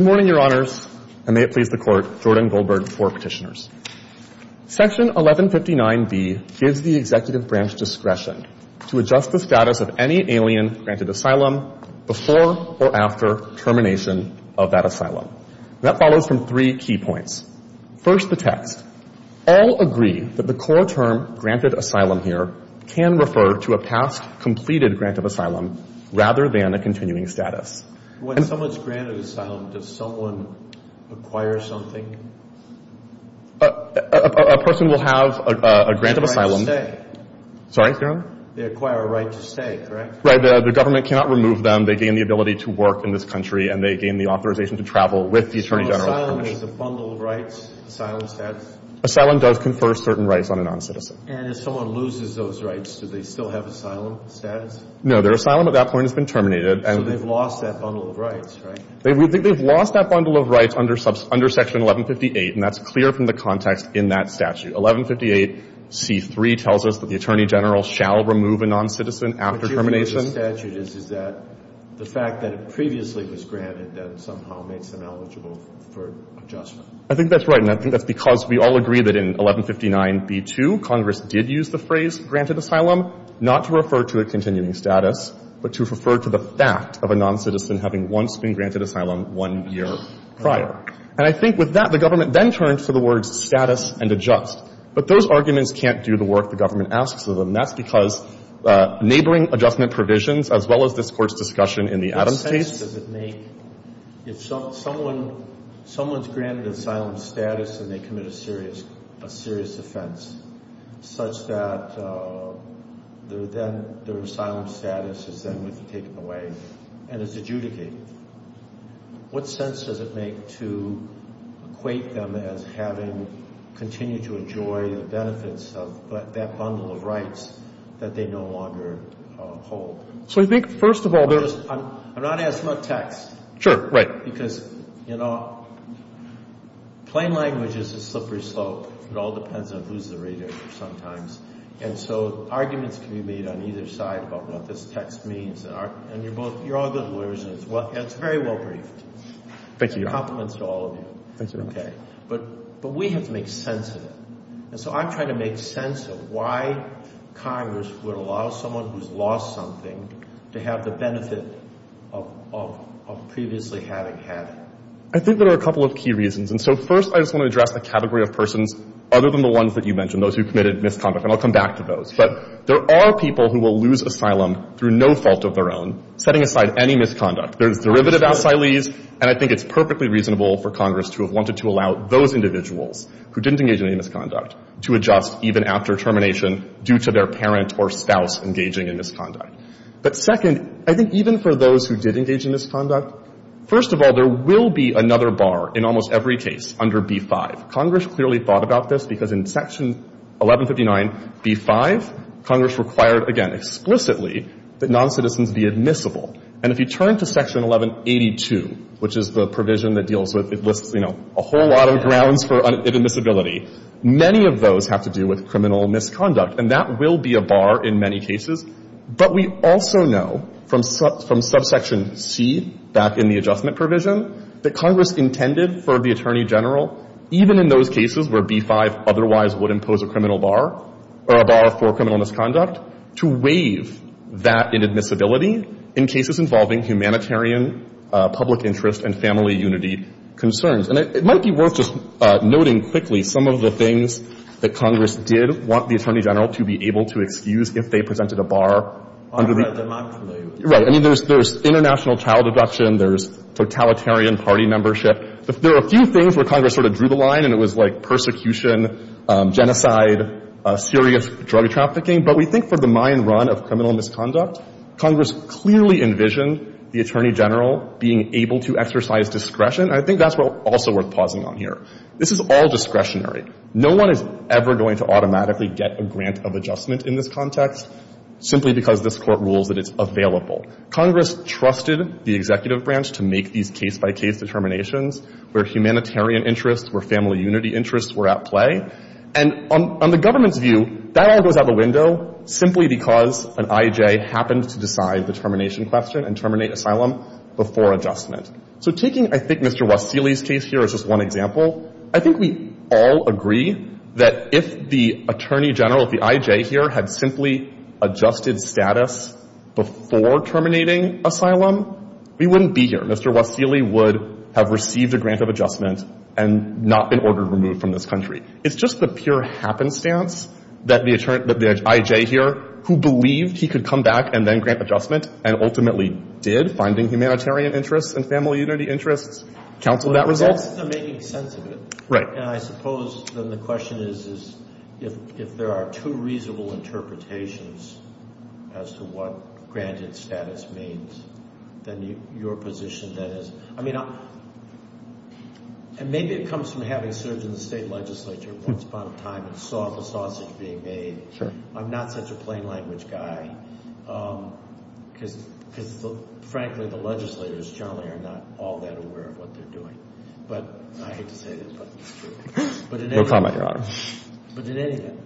Good morning, Your Honors, and may it please the Court, Jordan Goldberg for Petitioners. Section 1159B gives the Executive Branch discretion to adjust the status of any alien granted asylum before or after termination of that asylum. That follows from three key points. First the text. All agree that the core term granted asylum here can refer to a past completed grant of asylum rather than a continuing status. When someone's granted asylum, does someone acquire something? A person will have a grant of asylum. They acquire a right to stay. Sorry, Your Honor? They acquire a right to stay, correct? Right. The government cannot remove them. They gain the ability to work in this country, and they gain the authorization to travel with the Attorney General's permission. So asylum is a bundle of rights, asylum status? Asylum does confer certain rights on a noncitizen. And if someone loses those rights, do they still have asylum status? No. Their asylum at that point has been terminated. So they've lost that bundle of rights, right? They've lost that bundle of rights under Section 1158, and that's clear from the context in that statute. 1158C3 tells us that the Attorney General shall remove a noncitizen after termination. Which is the way the statute is, is that the fact that it previously was granted that somehow makes them eligible for adjustment. I think that's right, and I think that's because we all agree that in 1159B2, Congress did use the phrase granted asylum, not to refer to a continuing status, but to refer to the fact of a noncitizen having once been granted asylum one year prior. And I think with that, the government then turned to the words status and adjust. But those arguments can't do the work the government asks of them. That's because neighboring adjustment provisions, as well as this Court's discussion in the Adams case. What sense does it make if someone's granted asylum status and they commit a serious offense, such that their asylum status is then taken away and is adjudicated? What sense does it make to equate them as having continued to enjoy the benefits of that bundle of rights that they no longer hold? So you think, first of all, there's I'm not asking about text. Sure, right. Because, you know, plain language is a slippery slope. It all depends on who's the radiator sometimes. And so arguments can be made on either side about what this text means. And you're both, you're all good lawyers, and it's very well briefed. Thank you. Compliments to all of you. Thank you very much. Okay. But we have to make sense of it. And so I'm trying to make sense of why Congress would allow someone who's lost something to have the benefit of previously having had it. I think there are a couple of key reasons. And so, first, I just want to address the category of persons other than the ones that you mentioned, those who committed misconduct. And I'll come back to those. But there are people who will lose asylum through no fault of their own, setting aside any misconduct. There's derivative asylees, and I think it's perfectly reasonable for Congress to have wanted to allow those individuals who didn't engage in any misconduct to adjust even after termination due to their parent or spouse engaging in misconduct. But second, I think even for those who did engage in misconduct, first of all, there will be another bar in almost every case under B-5. Congress clearly thought about this because in Section 1159, B-5, Congress required, again, explicitly, that noncitizens be admissible. And if you turn to Section 1182, which is the provision that deals with, it lists, you know, a whole lot of grounds for inadmissibility, many of those have to do with criminal misconduct. And that will be a bar in many cases. But we also know from Subsection C, back in the adjustment provision, that Congress intended for the Attorney General, even in those cases where B-5 otherwise would impose a criminal bar or a bar for criminal misconduct, to waive that inadmissibility in cases involving humanitarian, public interest, and family unity concerns. And it might be worth just noting quickly some of the things that Congress did want the Attorney General to be able to excuse if they presented a bar under the — Right. I mean, there's international child abduction. There's totalitarian party membership. There are a few things where Congress sort of drew the line, and it was like persecution, genocide, serious drug trafficking. But we think for the mine run of criminal misconduct, Congress clearly envisioned the Attorney General being able to exercise discretion. And I think that's also worth pausing on here. This is all discretionary. No one is ever going to automatically get a grant of adjustment in this context simply because this Court rules that it's available. Congress trusted the executive branch to make these case-by-case determinations where humanitarian interests, where family unity interests were at play. And on the government's view, that all goes out the window simply because an I.J. happened to decide the termination question and terminate asylum before adjustment. So taking, I think, Mr. Wasiley's case here as just one example, I think we all agree that if the Attorney General, if the I.J. here had simply adjusted status before terminating asylum, we wouldn't be here. Mr. Wasiley would have received a grant of adjustment and not been ordered removed from this country. It's just the pure happenstance that the I.J. here, who believed he could come back and then grant adjustment and ultimately did, finding humanitarian interests and family unity interests, counseled that result. Well, the results are making sense of it. Right. And I suppose then the question is, is if there are two reasonable interpretations as to what granted status means, then your position then is, I mean, and maybe it comes from having served in the state legislature once upon a time and saw the sausage being made. Sure. I'm not such a plain language guy because, frankly, the legislators generally are not all that aware of what they're doing. But I hate to say this, but it's true. No comment, Your Honor. But in any event,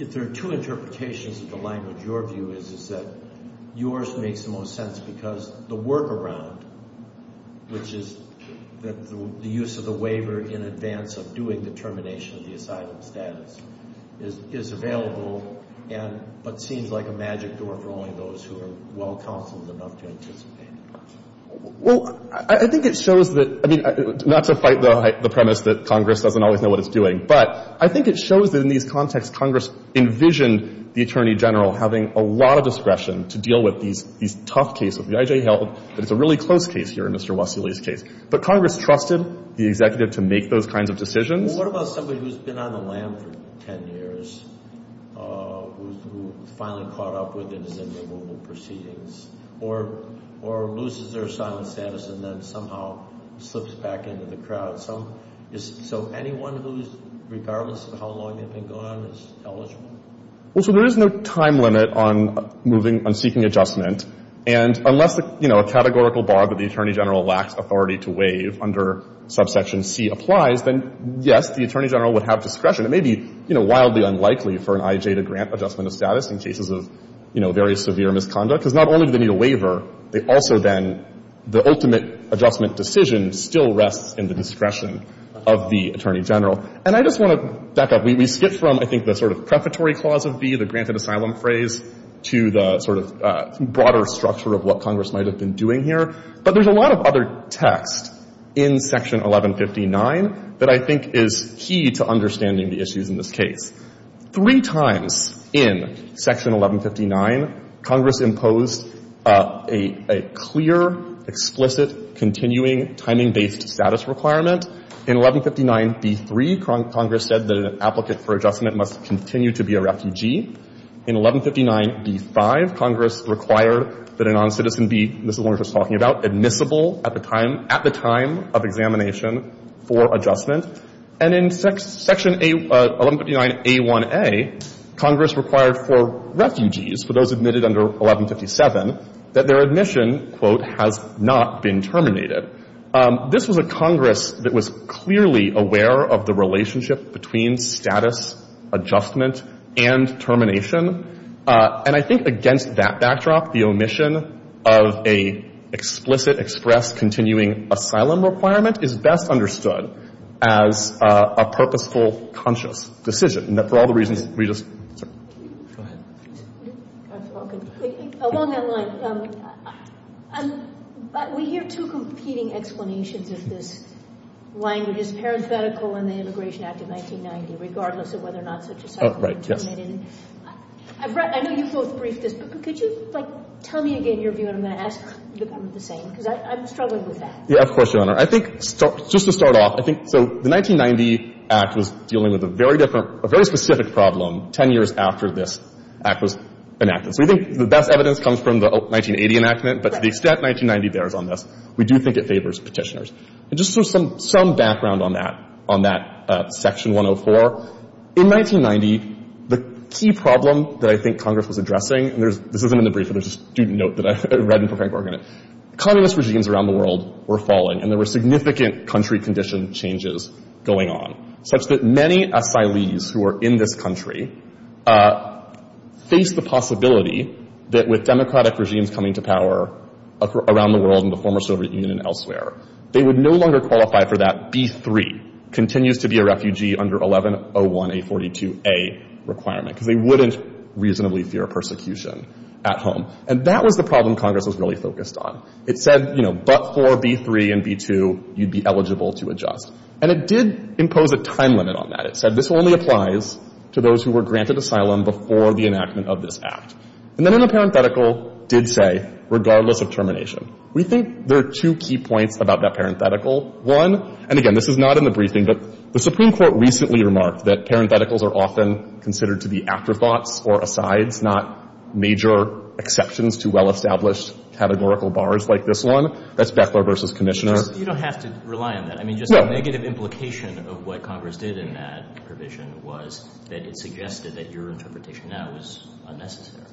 if there are two interpretations of the language, your view is that yours makes the most sense because the workaround, which is the use of the waiver in advance of doing the termination of the asylum status, is available and but seems like a magic door for only those who are well-counseled enough to anticipate it. Well, I think it shows that, I mean, not to fight the premise that Congress doesn't always know what it's doing, but I think it shows that in these contexts, Congress envisioned the attorney general having a lot of discretion to deal with these tough cases. The IJ held that it's a really close case here in Mr. Wassily's case. But Congress trusted the executive to make those kinds of decisions. Well, what about somebody who's been on the lam for 10 years, who's finally caught up with it in the removal proceedings or loses their asylum status and then somehow slips back into the crowd? So anyone who's, regardless of how long they've been gone, is eligible? Well, sir, there is no time limit on moving, on seeking adjustment. And unless, you know, a categorical bar that the attorney general lacks authority to waive under subsection C applies, then, yes, the attorney general would have discretion. It may be, you know, wildly unlikely for an IJ to grant adjustment of status in cases of, you know, very severe misconduct because not only do they need a waiver, they discretion of the attorney general. And I just want to back up. We skipped from, I think, the sort of prefatory clause of B, the granted asylum phrase, to the sort of broader structure of what Congress might have been doing here. But there's a lot of other text in Section 1159 that I think is key to understanding the issues in this case. Three times in Section 1159, Congress imposed a clear, explicit, continuing, timing-based status requirement. In 1159b3, Congress said that an applicant for adjustment must continue to be a refugee. In 1159b5, Congress required that a noncitizen be, as we were just talking about, admissible at the time of examination for adjustment. And in Section 1159a1a, Congress required for refugees, for those admitted under Section 1157, that their admission, quote, has not been terminated. This was a Congress that was clearly aware of the relationship between status, adjustment, and termination. And I think against that backdrop, the omission of a explicit, express, continuing asylum requirement is best understood as a purposeful, conscious decision, and that for all the reasons we just said. Go ahead. Okay. Along that line, we hear two competing explanations of this language. It's parenthetical in the Immigration Act of 1990, regardless of whether or not such a settlement had been terminated. Oh, right. Yes. I've read — I know you both briefed this, but could you, like, tell me again your view on that? Because I'm struggling with that. Yeah, of course, Your Honor. I think — just to start off, I think — so the 1990 Act was dealing with a very different — a very specific problem 10 years after this Act was enacted. So we think the best evidence comes from the 1980 enactment, but to the extent 1990 bears on this, we do think it favors petitioners. And just some background on that, on that Section 104. In 1990, the key problem that I think Congress was addressing — and this isn't in the brief, it was just a student note that I read in the Procuring Court in it — communist regimes around the world were falling, and there were significant country condition changes going on, such that many asylees who are in this country face the possibility that with democratic regimes coming to power around the world and the former Soviet Union and elsewhere, they would no longer qualify for that B-3, continues-to-be-a-refugee-under-1101A42A requirement, because they wouldn't reasonably fear persecution at home. And that was the problem Congress was really focused on. It said, you know, but for B-3 and B-2, you'd be eligible to adjust. And it did impose a time limit on that. It said this only applies to those who were granted asylum before the enactment of this Act. And then in the parenthetical, did say, regardless of termination. We think there are two key points about that parenthetical. One — and again, this is not in the briefing, but the Supreme Court recently remarked that parentheticals are often considered to be afterthoughts or asides, not major exceptions to well-established categorical bars like this one. That's Beckler v. Commissioner. You don't have to rely on that. No. I mean, just the negative implication of what Congress did in that provision was that it suggested that your interpretation now is unnecessary.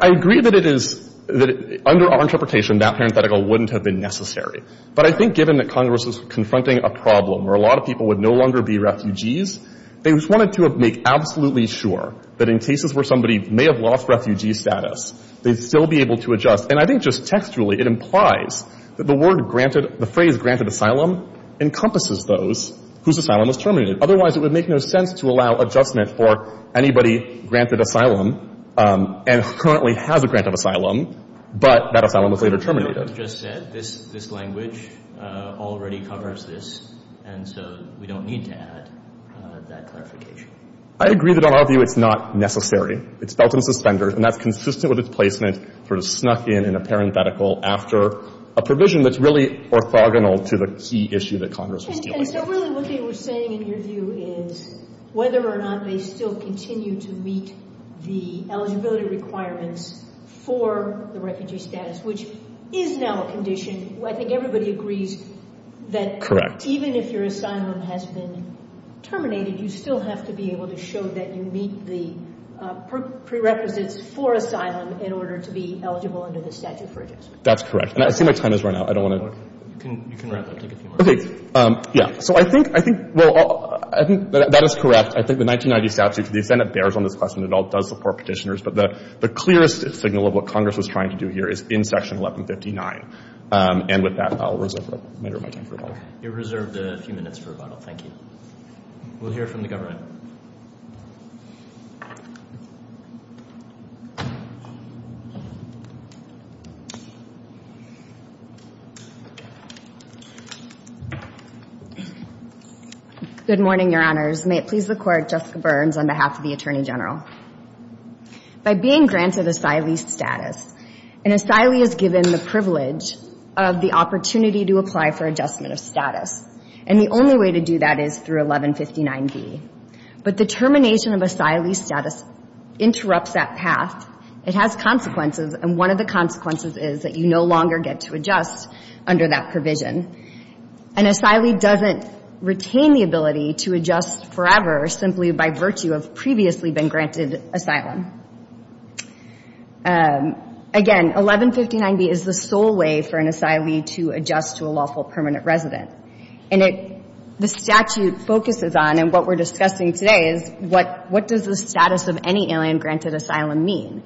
I agree that it is — that under our interpretation, that parenthetical wouldn't have been necessary. But I think given that Congress was confronting a problem where a lot of people would no longer be refugees, they just wanted to make absolutely sure that in cases where somebody may have lost refugee status, they'd still be able to adjust. And I think just textually, it implies that the word granted — the phrase granted asylum encompasses those whose asylum was terminated. Otherwise, it would make no sense to allow adjustment for anybody granted asylum and currently has a grant of asylum, but that asylum was later terminated. But as you just said, this language already covers this, and so we don't need to add that clarification. I agree that in our view it's not necessary. It's belt and suspender, and that's consistent with its placement, sort of snuck in in a parenthetical after a provision that's really orthogonal to the key issue that Congress was dealing with. And so really what they were saying in your view is whether or not they still continue to meet the eligibility requirements for the refugee status, which is now a condition. I think everybody agrees that even if your asylum has been terminated, you still have to be able to show that you meet the prerequisites for asylum in order to be eligible under the statute for adjustment. That's correct. And I see my time has run out. I don't want to — You can wrap up. Take a few more minutes. Okay. Yeah. So I think — I think — well, I think that is correct. I think the 1990 statute, to the extent it bears on this question, it all does support Petitioners. But the clearest signal of what Congress was trying to do here is in Section 1159. And with that, I'll reserve a matter of my time for rebuttal. You're reserved a few minutes for rebuttal. Thank you. We'll hear from the government. Good morning, Your Honors. May it please the Court, Jessica Burns on behalf of the Attorney General. By being granted asylee status, an asylee is given the privilege of the opportunity to apply for adjustment of status. And the only way to do that is through 1159B. But the termination of asylee status interrupts that path. It has consequences, and one of the consequences is that you no longer get to adjust under that provision. An asylee doesn't retain the ability to adjust forever simply by virtue of previously been granted asylum. Again, 1159B is the sole way for an asylee to adjust to a lawful permanent resident. And the statute focuses on, and what we're discussing today is, what does the status of any alien granted asylum mean?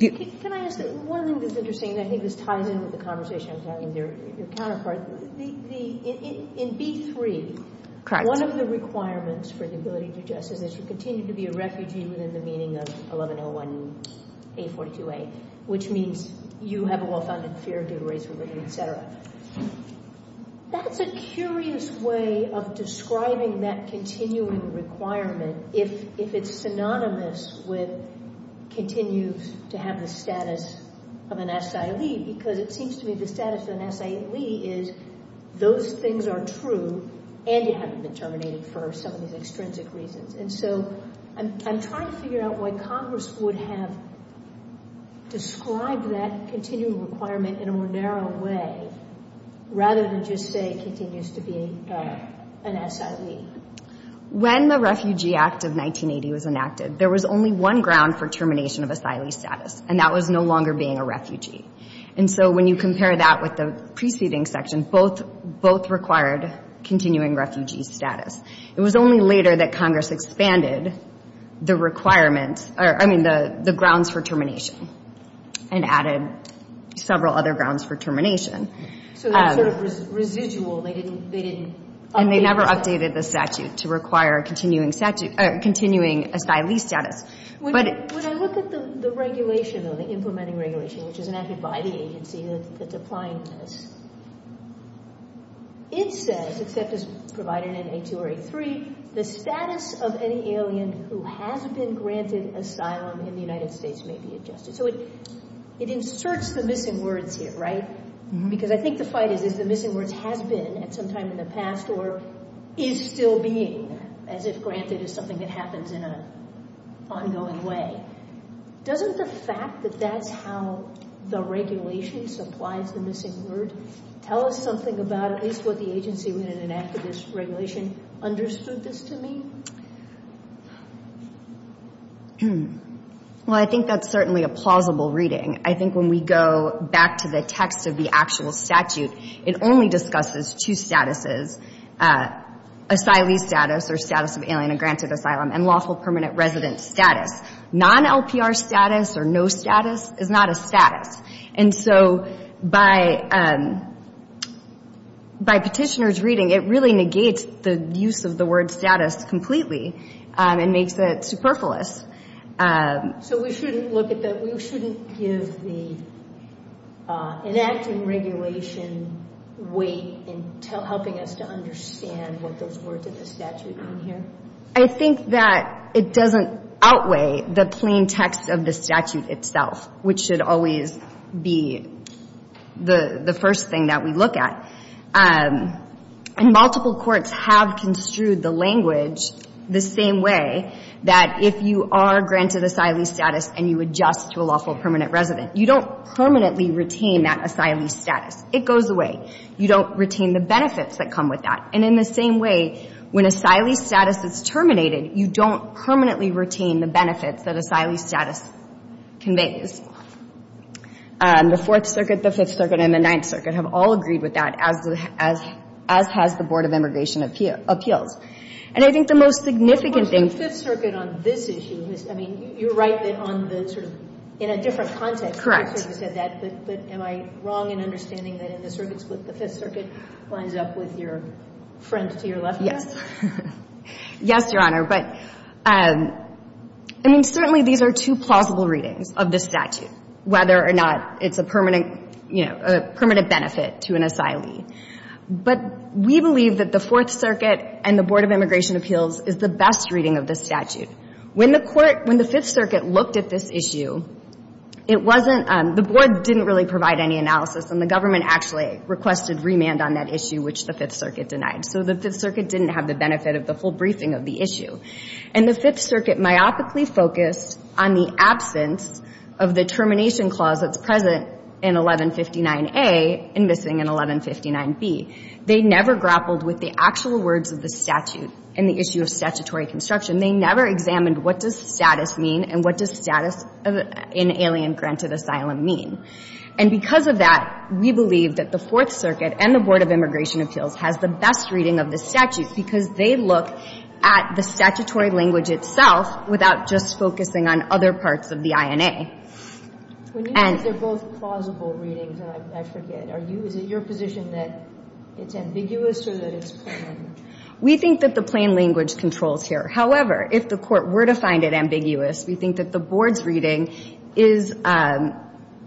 Can I ask you one thing that's interesting? I think this ties in with the conversation I was having with your counterpart. In B-3, one of the requirements for the ability to adjust is that you continue to be a refugee within the meaning of 1101A, 42A, which means you have a well-founded fear of being raised with a refugee, et cetera. That's a curious way of describing that continuing requirement if it's synonymous with continues to have the status of an asylee, because it seems to me the status of an asylee is those things are true, and you haven't been terminated for some of these extrinsic reasons. And so I'm trying to figure out why Congress would have described that continuing requirement in a more narrow way rather than just say continues to be an asylee. When the Refugee Act of 1980 was enacted, there was only one ground for termination of asylee status, and that was no longer being a refugee. And so when you compare that with the preceding section, both required continuing refugee status. It was only later that Congress expanded the requirements, I mean, the grounds for termination and added several other grounds for termination. So they're sort of residual. They didn't update the statute. And they never updated the statute to require continuing asylee status. When I look at the regulation, the implementing regulation, which is enacted by the agency that's applying this, it says, except as provided in 8.2 or 8.3, the status of any alien who has been granted asylum in the United States may be adjusted. So it inserts the missing words here, right? Because I think the fight is, is the missing words has been at some time in the past or is still being, as if granted is something that happens in an ongoing way. Doesn't the fact that that's how the regulation supplies the missing word tell us something about at least what the agency, when it enacted this regulation, understood this to mean? Well, I think that's certainly a plausible reading. I think when we go back to the text of the actual statute, it only discusses two statuses, asylee status or status of alien granted asylum and lawful permanent resident status. Non-LPR status or no status is not a status. And so by petitioner's reading, it really negates the use of the word status completely and makes it superfluous. So we shouldn't look at that. So you shouldn't give the enacting regulation weight in helping us to understand what those words in the statute mean here? I think that it doesn't outweigh the plain text of the statute itself, which should always be the first thing that we look at. And multiple courts have construed the language the same way, that if you are granted asylee status and you adjust to a lawful permanent resident, you don't permanently retain that asylee status. It goes away. You don't retain the benefits that come with that. And in the same way, when asylee status is terminated, you don't permanently retain the benefits that asylee status conveys. The Fourth Circuit, the Fifth Circuit, and the Ninth Circuit have all agreed with that, as has the Board of Immigration Appeals. And I think the most significant thing — I mean, you're right on the sort of — in a different context. Correct. But am I wrong in understanding that in the circuit split, the Fifth Circuit lines up with your friend to your left? Yes. Yes, Your Honor. But, I mean, certainly these are two plausible readings of the statute, whether or not it's a permanent benefit to an asylee. But we believe that the Fourth Circuit and the Board of Immigration Appeals is the best reading of the statute. When the court — when the Fifth Circuit looked at this issue, it wasn't — the board didn't really provide any analysis, and the government actually requested remand on that issue, which the Fifth Circuit denied. So the Fifth Circuit didn't have the benefit of the full briefing of the issue. And the Fifth Circuit myopically focused on the absence of the termination clause that's present in 1159A and missing in 1159B. They never grappled with the actual words of the statute in the issue of statutory construction. They never examined what does status mean and what does status in alien-granted asylum mean. And because of that, we believe that the Fourth Circuit and the Board of Immigration Appeals has the best reading of the statute because they look at the statutory language itself without just focusing on other parts of the INA. When you say they're both plausible readings, and I forget, are you — is it your position that it's ambiguous or that it's permanent? We think that the plain language controls here. However, if the court were to find it ambiguous, we think that the board's reading is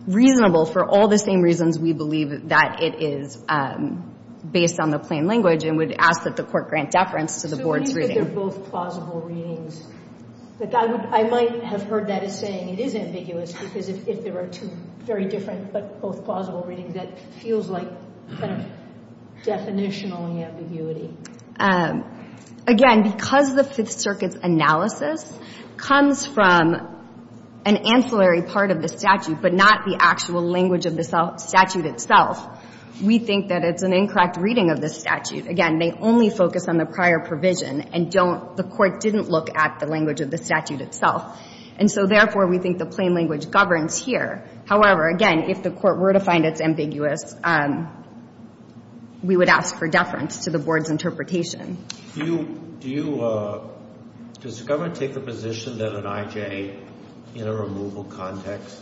reasonable for all the same reasons we believe that it is based on the plain language and would ask that the court grant deference to the board's reading. So you think that they're both plausible readings? Like, I might have heard that as saying it is ambiguous because if there are two very different but both plausible readings, that feels like kind of definitional ambiguity. Again, because the Fifth Circuit's analysis comes from an ancillary part of the statute but not the actual language of the statute itself, we think that it's an incorrect reading of the statute. Again, they only focus on the prior provision and don't — the court didn't look at the language of the statute itself. And so, therefore, we think the plain language governs here. However, again, if the court were to find it's ambiguous, we would ask for deference to the board's interpretation. Do you — does the government take the position that an IJ in a removal context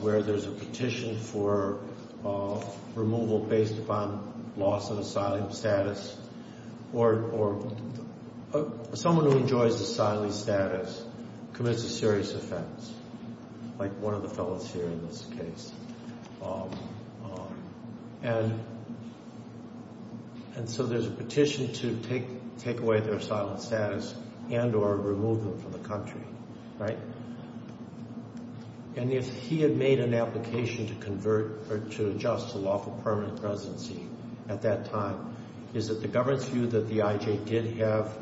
where there's a petition for removal based upon loss of asylum status or someone who enjoys asylee status commits a serious offense, like one of the fellows here in this case? And so there's a petition to take away their asylum status and or remove them from the country, right? And if he had made an application to convert or to adjust to lawful permanent residency at that time, is it the government's view that the IJ did have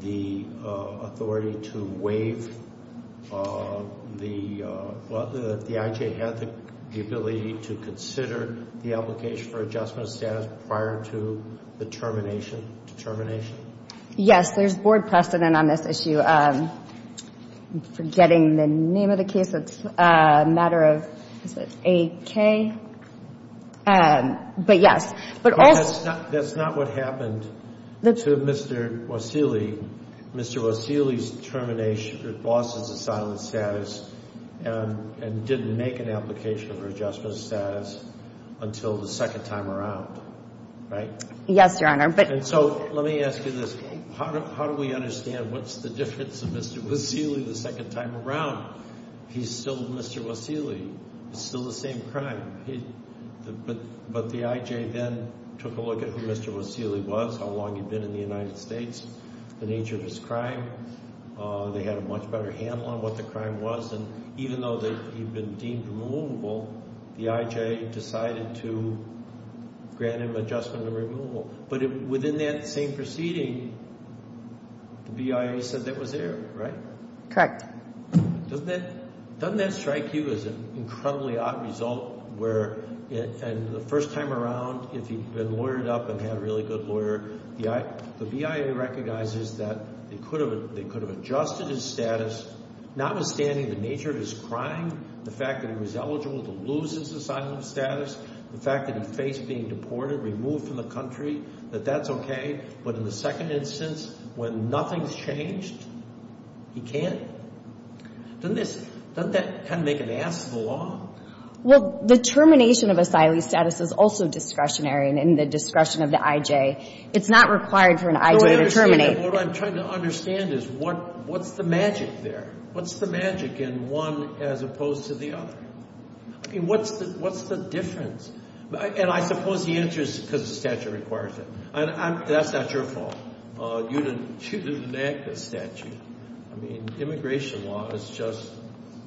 the ability to consider the application for adjustment of status prior to the termination determination? Yes. There's board precedent on this issue. I'm forgetting the name of the case. It's a matter of — is it AK? But, yes. But also — That's not what happened to Mr. Wasiley. Mr. Wasiley's termination or loss of asylum status and didn't make an application for adjustment of status until the second time around, right? Yes, Your Honor, but — And so let me ask you this. How do we understand what's the difference of Mr. Wasiley the second time around? He's still Mr. Wasiley. It's still the same crime. But the IJ then took a look at who Mr. Wasiley was, how long he'd been in the United States, the nature of his crime. They had a much better handle on what the crime was. And even though he'd been deemed removable, the IJ decided to grant him adjustment and removal. But within that same proceeding, the BIA said that was it, right? Correct. Doesn't that strike you as an incredibly odd result where — and the first time around, if he'd been lawyered up and had a really good lawyer, the BIA recognizes that they could have adjusted his status, notwithstanding the nature of his crime, the fact that he was eligible to lose his asylum status, the fact that he faced being deported, removed from the country, that that's okay. But in the second instance, when nothing's changed, he can't? Doesn't this — doesn't that kind of make an ass of the law? Well, the termination of asylum status is also discretionary and in the discretion of the IJ. It's not required for an IJ to terminate. What I'm trying to understand is what's the magic there? What's the magic in one as opposed to the other? I mean, what's the difference? And I suppose the answer is because the statute requires it. That's not your fault. You didn't enact the statute. I mean, immigration law is just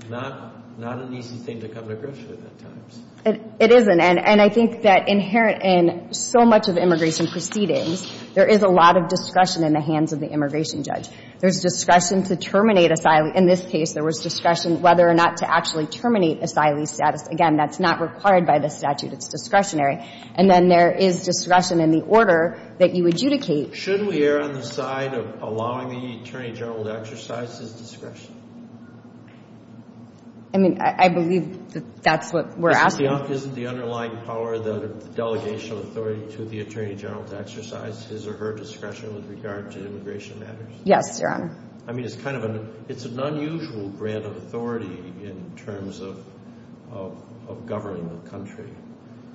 not an easy thing to come to grips with at times. It isn't. And I think that inherent in so much of immigration proceedings, there is a lot of discretion in the hands of the immigration judge. There's discretion to terminate asylum. In this case, there was discretion whether or not to actually terminate asylum status. Again, that's not required by the statute. It's discretionary. And then there is discretion in the order that you adjudicate. Should we err on the side of allowing the Attorney General to exercise his discretion? I mean, I believe that that's what we're asking. Isn't the underlying power the delegation of authority to the Attorney General to exercise his or her discretion with regard to immigration matters? Yes, Your Honor. I mean, it's kind of an unusual grant of authority in terms of governing the country.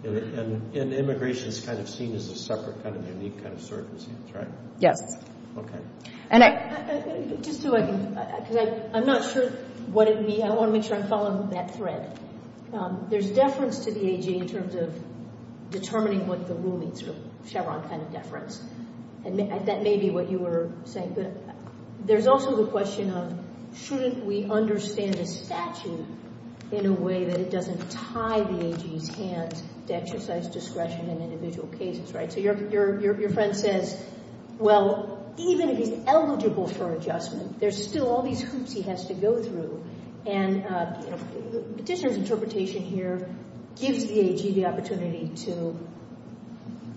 And immigration is kind of seen as a separate kind of unique kind of circumstance, right? Yes. Okay. And I... Just so I can... Because I'm not sure what it means. I want to make sure I'm following that thread. There's deference to the AG in terms of determining what the rule means, sort of Chevron kind of deference. And that may be what you were saying. But there's also the question of shouldn't we understand a statute in a way that it doesn't tie the AG's hands to exercise discretion in individual cases, right? So your friend says, well, even if he's eligible for adjustment, there's still all these hoops he has to go through. And Petitioner's interpretation here gives the AG the opportunity to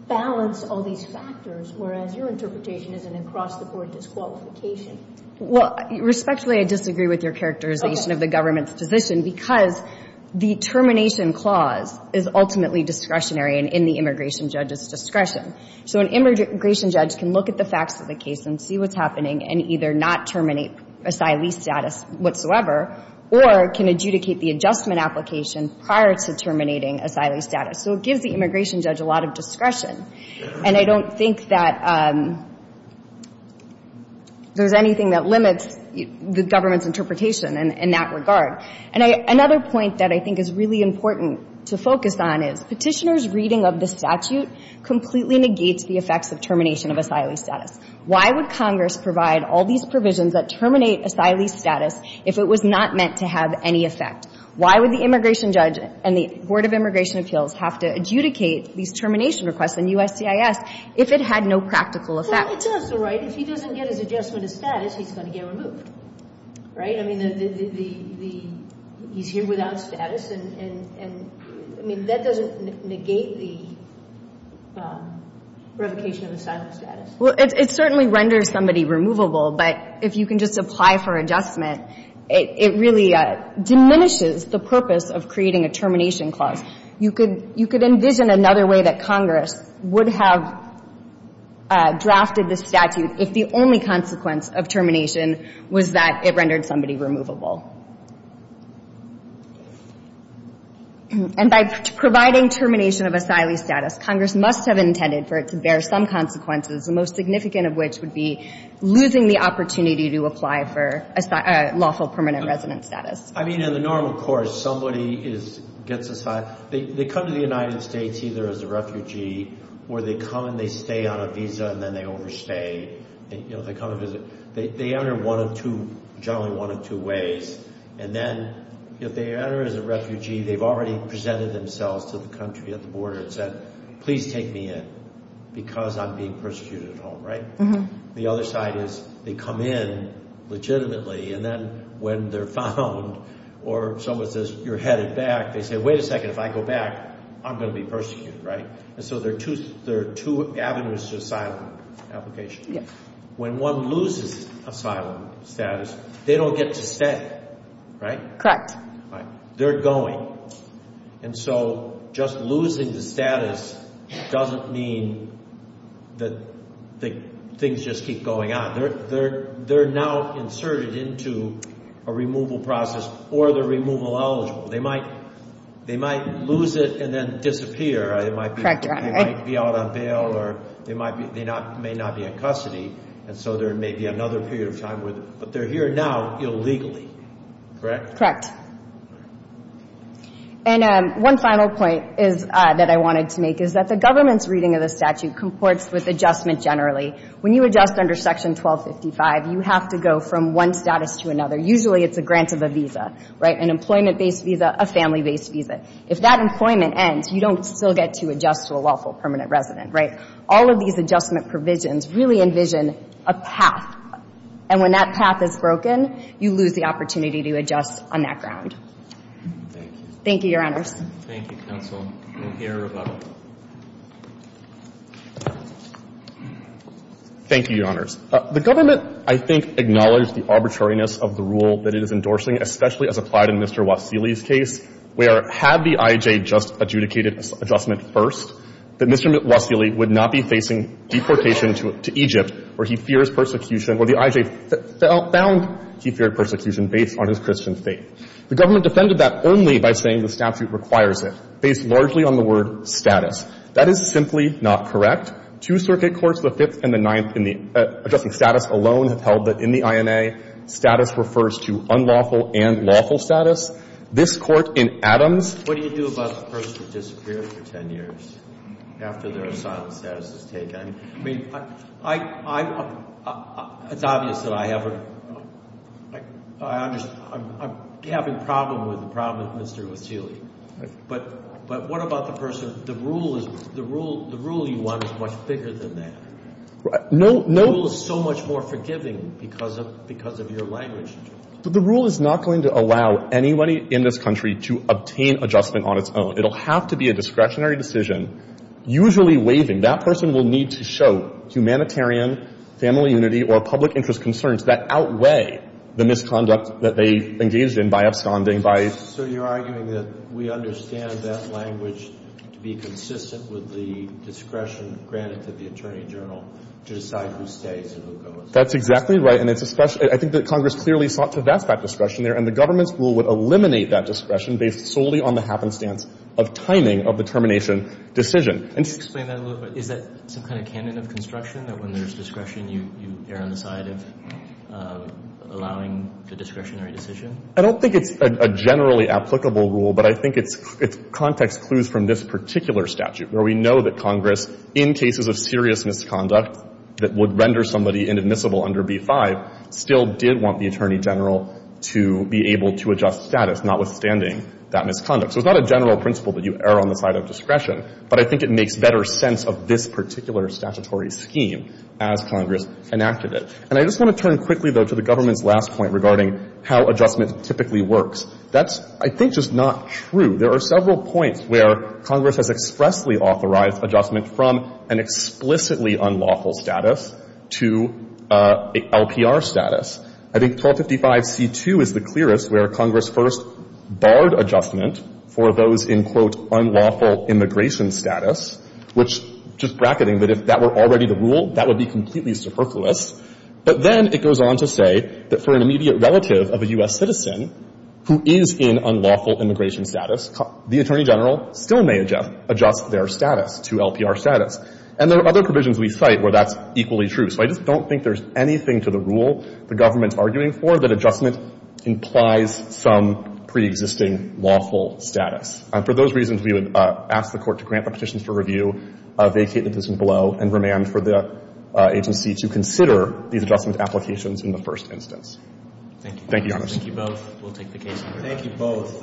balance all these factors, whereas your interpretation is an across-the-board disqualification. Well, respectfully, I disagree with your characterization of the government's position because the termination clause is ultimately discretionary and in the immigration judge's discretion. So an immigration judge can look at the facts of the case and see what's happening and either not terminate asylee status whatsoever or can adjudicate the adjustment application prior to terminating asylee status. So it gives the immigration judge a lot of discretion. And I don't think that there's anything that limits the government's interpretation in that regard. And another point that I think is really important to focus on is Petitioner's reading of the statute completely negates the effects of termination of asylee status. Why would Congress provide all these provisions that terminate asylee status if it was not meant to have any effect? Why would the immigration judge and the Board of Immigration Appeals have to adjudicate these termination requests in USCIS if it had no practical effect? It's also right if he doesn't get his adjustment of status, he's going to get removed, right? But, I mean, he's here without status, and, I mean, that doesn't negate the revocation of asylee status. Well, it certainly renders somebody removable, but if you can just apply for adjustment, it really diminishes the purpose of creating a termination clause. You could envision another way that Congress would have drafted this statute if the only consequence of termination was that it rendered somebody removable. And by providing termination of asylee status, Congress must have intended for it to bear some consequences, the most significant of which would be losing the opportunity to apply for lawful permanent resident status. I mean, in the normal course, somebody gets asylum. They come to the United States either as a refugee or they come and they stay on a visa and then they overstay. You know, they come and visit. They enter one of two, generally one of two ways, and then if they enter as a refugee, they've already presented themselves to the country at the border and said, please take me in because I'm being persecuted at home, right? The other side is they come in legitimately, and then when they're found or someone says, you're headed back, they say, wait a second, if I go back, I'm going to be persecuted, right? And so there are two avenues to asylum application. When one loses asylum status, they don't get to stay, right? Correct. They're going. And so just losing the status doesn't mean that things just keep going on. They're now inserted into a removal process or they're removal eligible. They might lose it and then disappear. Correct, Your Honor. They might be out on bail or they may not be in custody, and so there may be another period of time. But they're here now illegally, correct? Correct. And one final point that I wanted to make is that the government's reading of the statute comports with adjustment generally. When you adjust under Section 1255, you have to go from one status to another. Usually it's a grant of a visa, right, an employment-based visa, a family-based visa. If that employment ends, you don't still get to adjust to a lawful permanent resident, right? All of these adjustment provisions really envision a path, and when that path is broken, you lose the opportunity to adjust on that ground. Thank you. Thank you, Your Honors. Thank you, counsel. We'll hear about it. Thank you, Your Honors. The government, I think, acknowledged the arbitrariness of the rule that it is endorsing, especially as applied in Mr. Wassily's case, where had the I.J. just adjudicated adjustment first, that Mr. Wassily would not be facing deportation to Egypt where he fears persecution, where the I.J. found he feared persecution based on his Christian faith. The government defended that only by saying the statute requires it, based largely on the word status. That is simply not correct. Two circuit courts, the Fifth and the Ninth, in the adjusting status alone have held that in the INA, status refers to unlawful and lawful status. This Court in Adams ---- What do you do about the person who disappeared for 10 years after their asylum status is taken? I mean, I'm ---- it's obvious that I have a ---- I'm having a problem with the problem of Mr. Wassily. But what about the person, the rule is, the rule you want is much bigger than that. No, no ---- The rule is so much more forgiving because of your language. But the rule is not going to allow anybody in this country to obtain adjustment on its own. It will have to be a discretionary decision, usually waiving. That person will need to show humanitarian, family unity, or public interest concerns that outweigh the misconduct that they engaged in by absconding by ---- So you're arguing that we understand that language to be consistent with the discretion granted to the attorney general to decide who stays and who goes. That's exactly right. And it's a special ---- I think that Congress clearly sought to advance that discretion there. And the government's rule would eliminate that discretion based solely on the happenstance of timing of the termination decision. And ---- Can you explain that a little bit? Is that some kind of canon of construction, that when there's discretion, you err on the side of allowing the discretionary decision? I don't think it's a generally applicable rule. But I think it's context clues from this particular statute where we know that Congress, in cases of serious misconduct that would render somebody inadmissible under B-5, still did want the attorney general to be able to adjust status, notwithstanding that misconduct. So it's not a general principle that you err on the side of discretion. But I think it makes better sense of this particular statutory scheme as Congress enacted it. And I just want to turn quickly, though, to the government's last point regarding how adjustment typically works. That's, I think, just not true. There are several points where Congress has expressly authorized adjustment from an explicitly unlawful status to a LPR status. I think 1255c2 is the clearest, where Congress first barred adjustment for those in, quote, unlawful immigration status, which, just bracketing, that if that were already the rule, that would be completely superfluous. But then it goes on to say that for an immediate relative of a U.S. citizen who is in unlawful immigration status, the attorney general still may adjust their status to LPR status. And there are other provisions we cite where that's equally true. So I just don't think there's anything to the rule the government's arguing for that adjustment implies some preexisting lawful status. For those reasons, we would ask the Court to grant the petitions for review, vacate the petition below, and remand for the agency to consider these adjustment applications in the first instance. Thank you. Thank you, Your Honor. Thank you both. We'll take the case. Thank you both.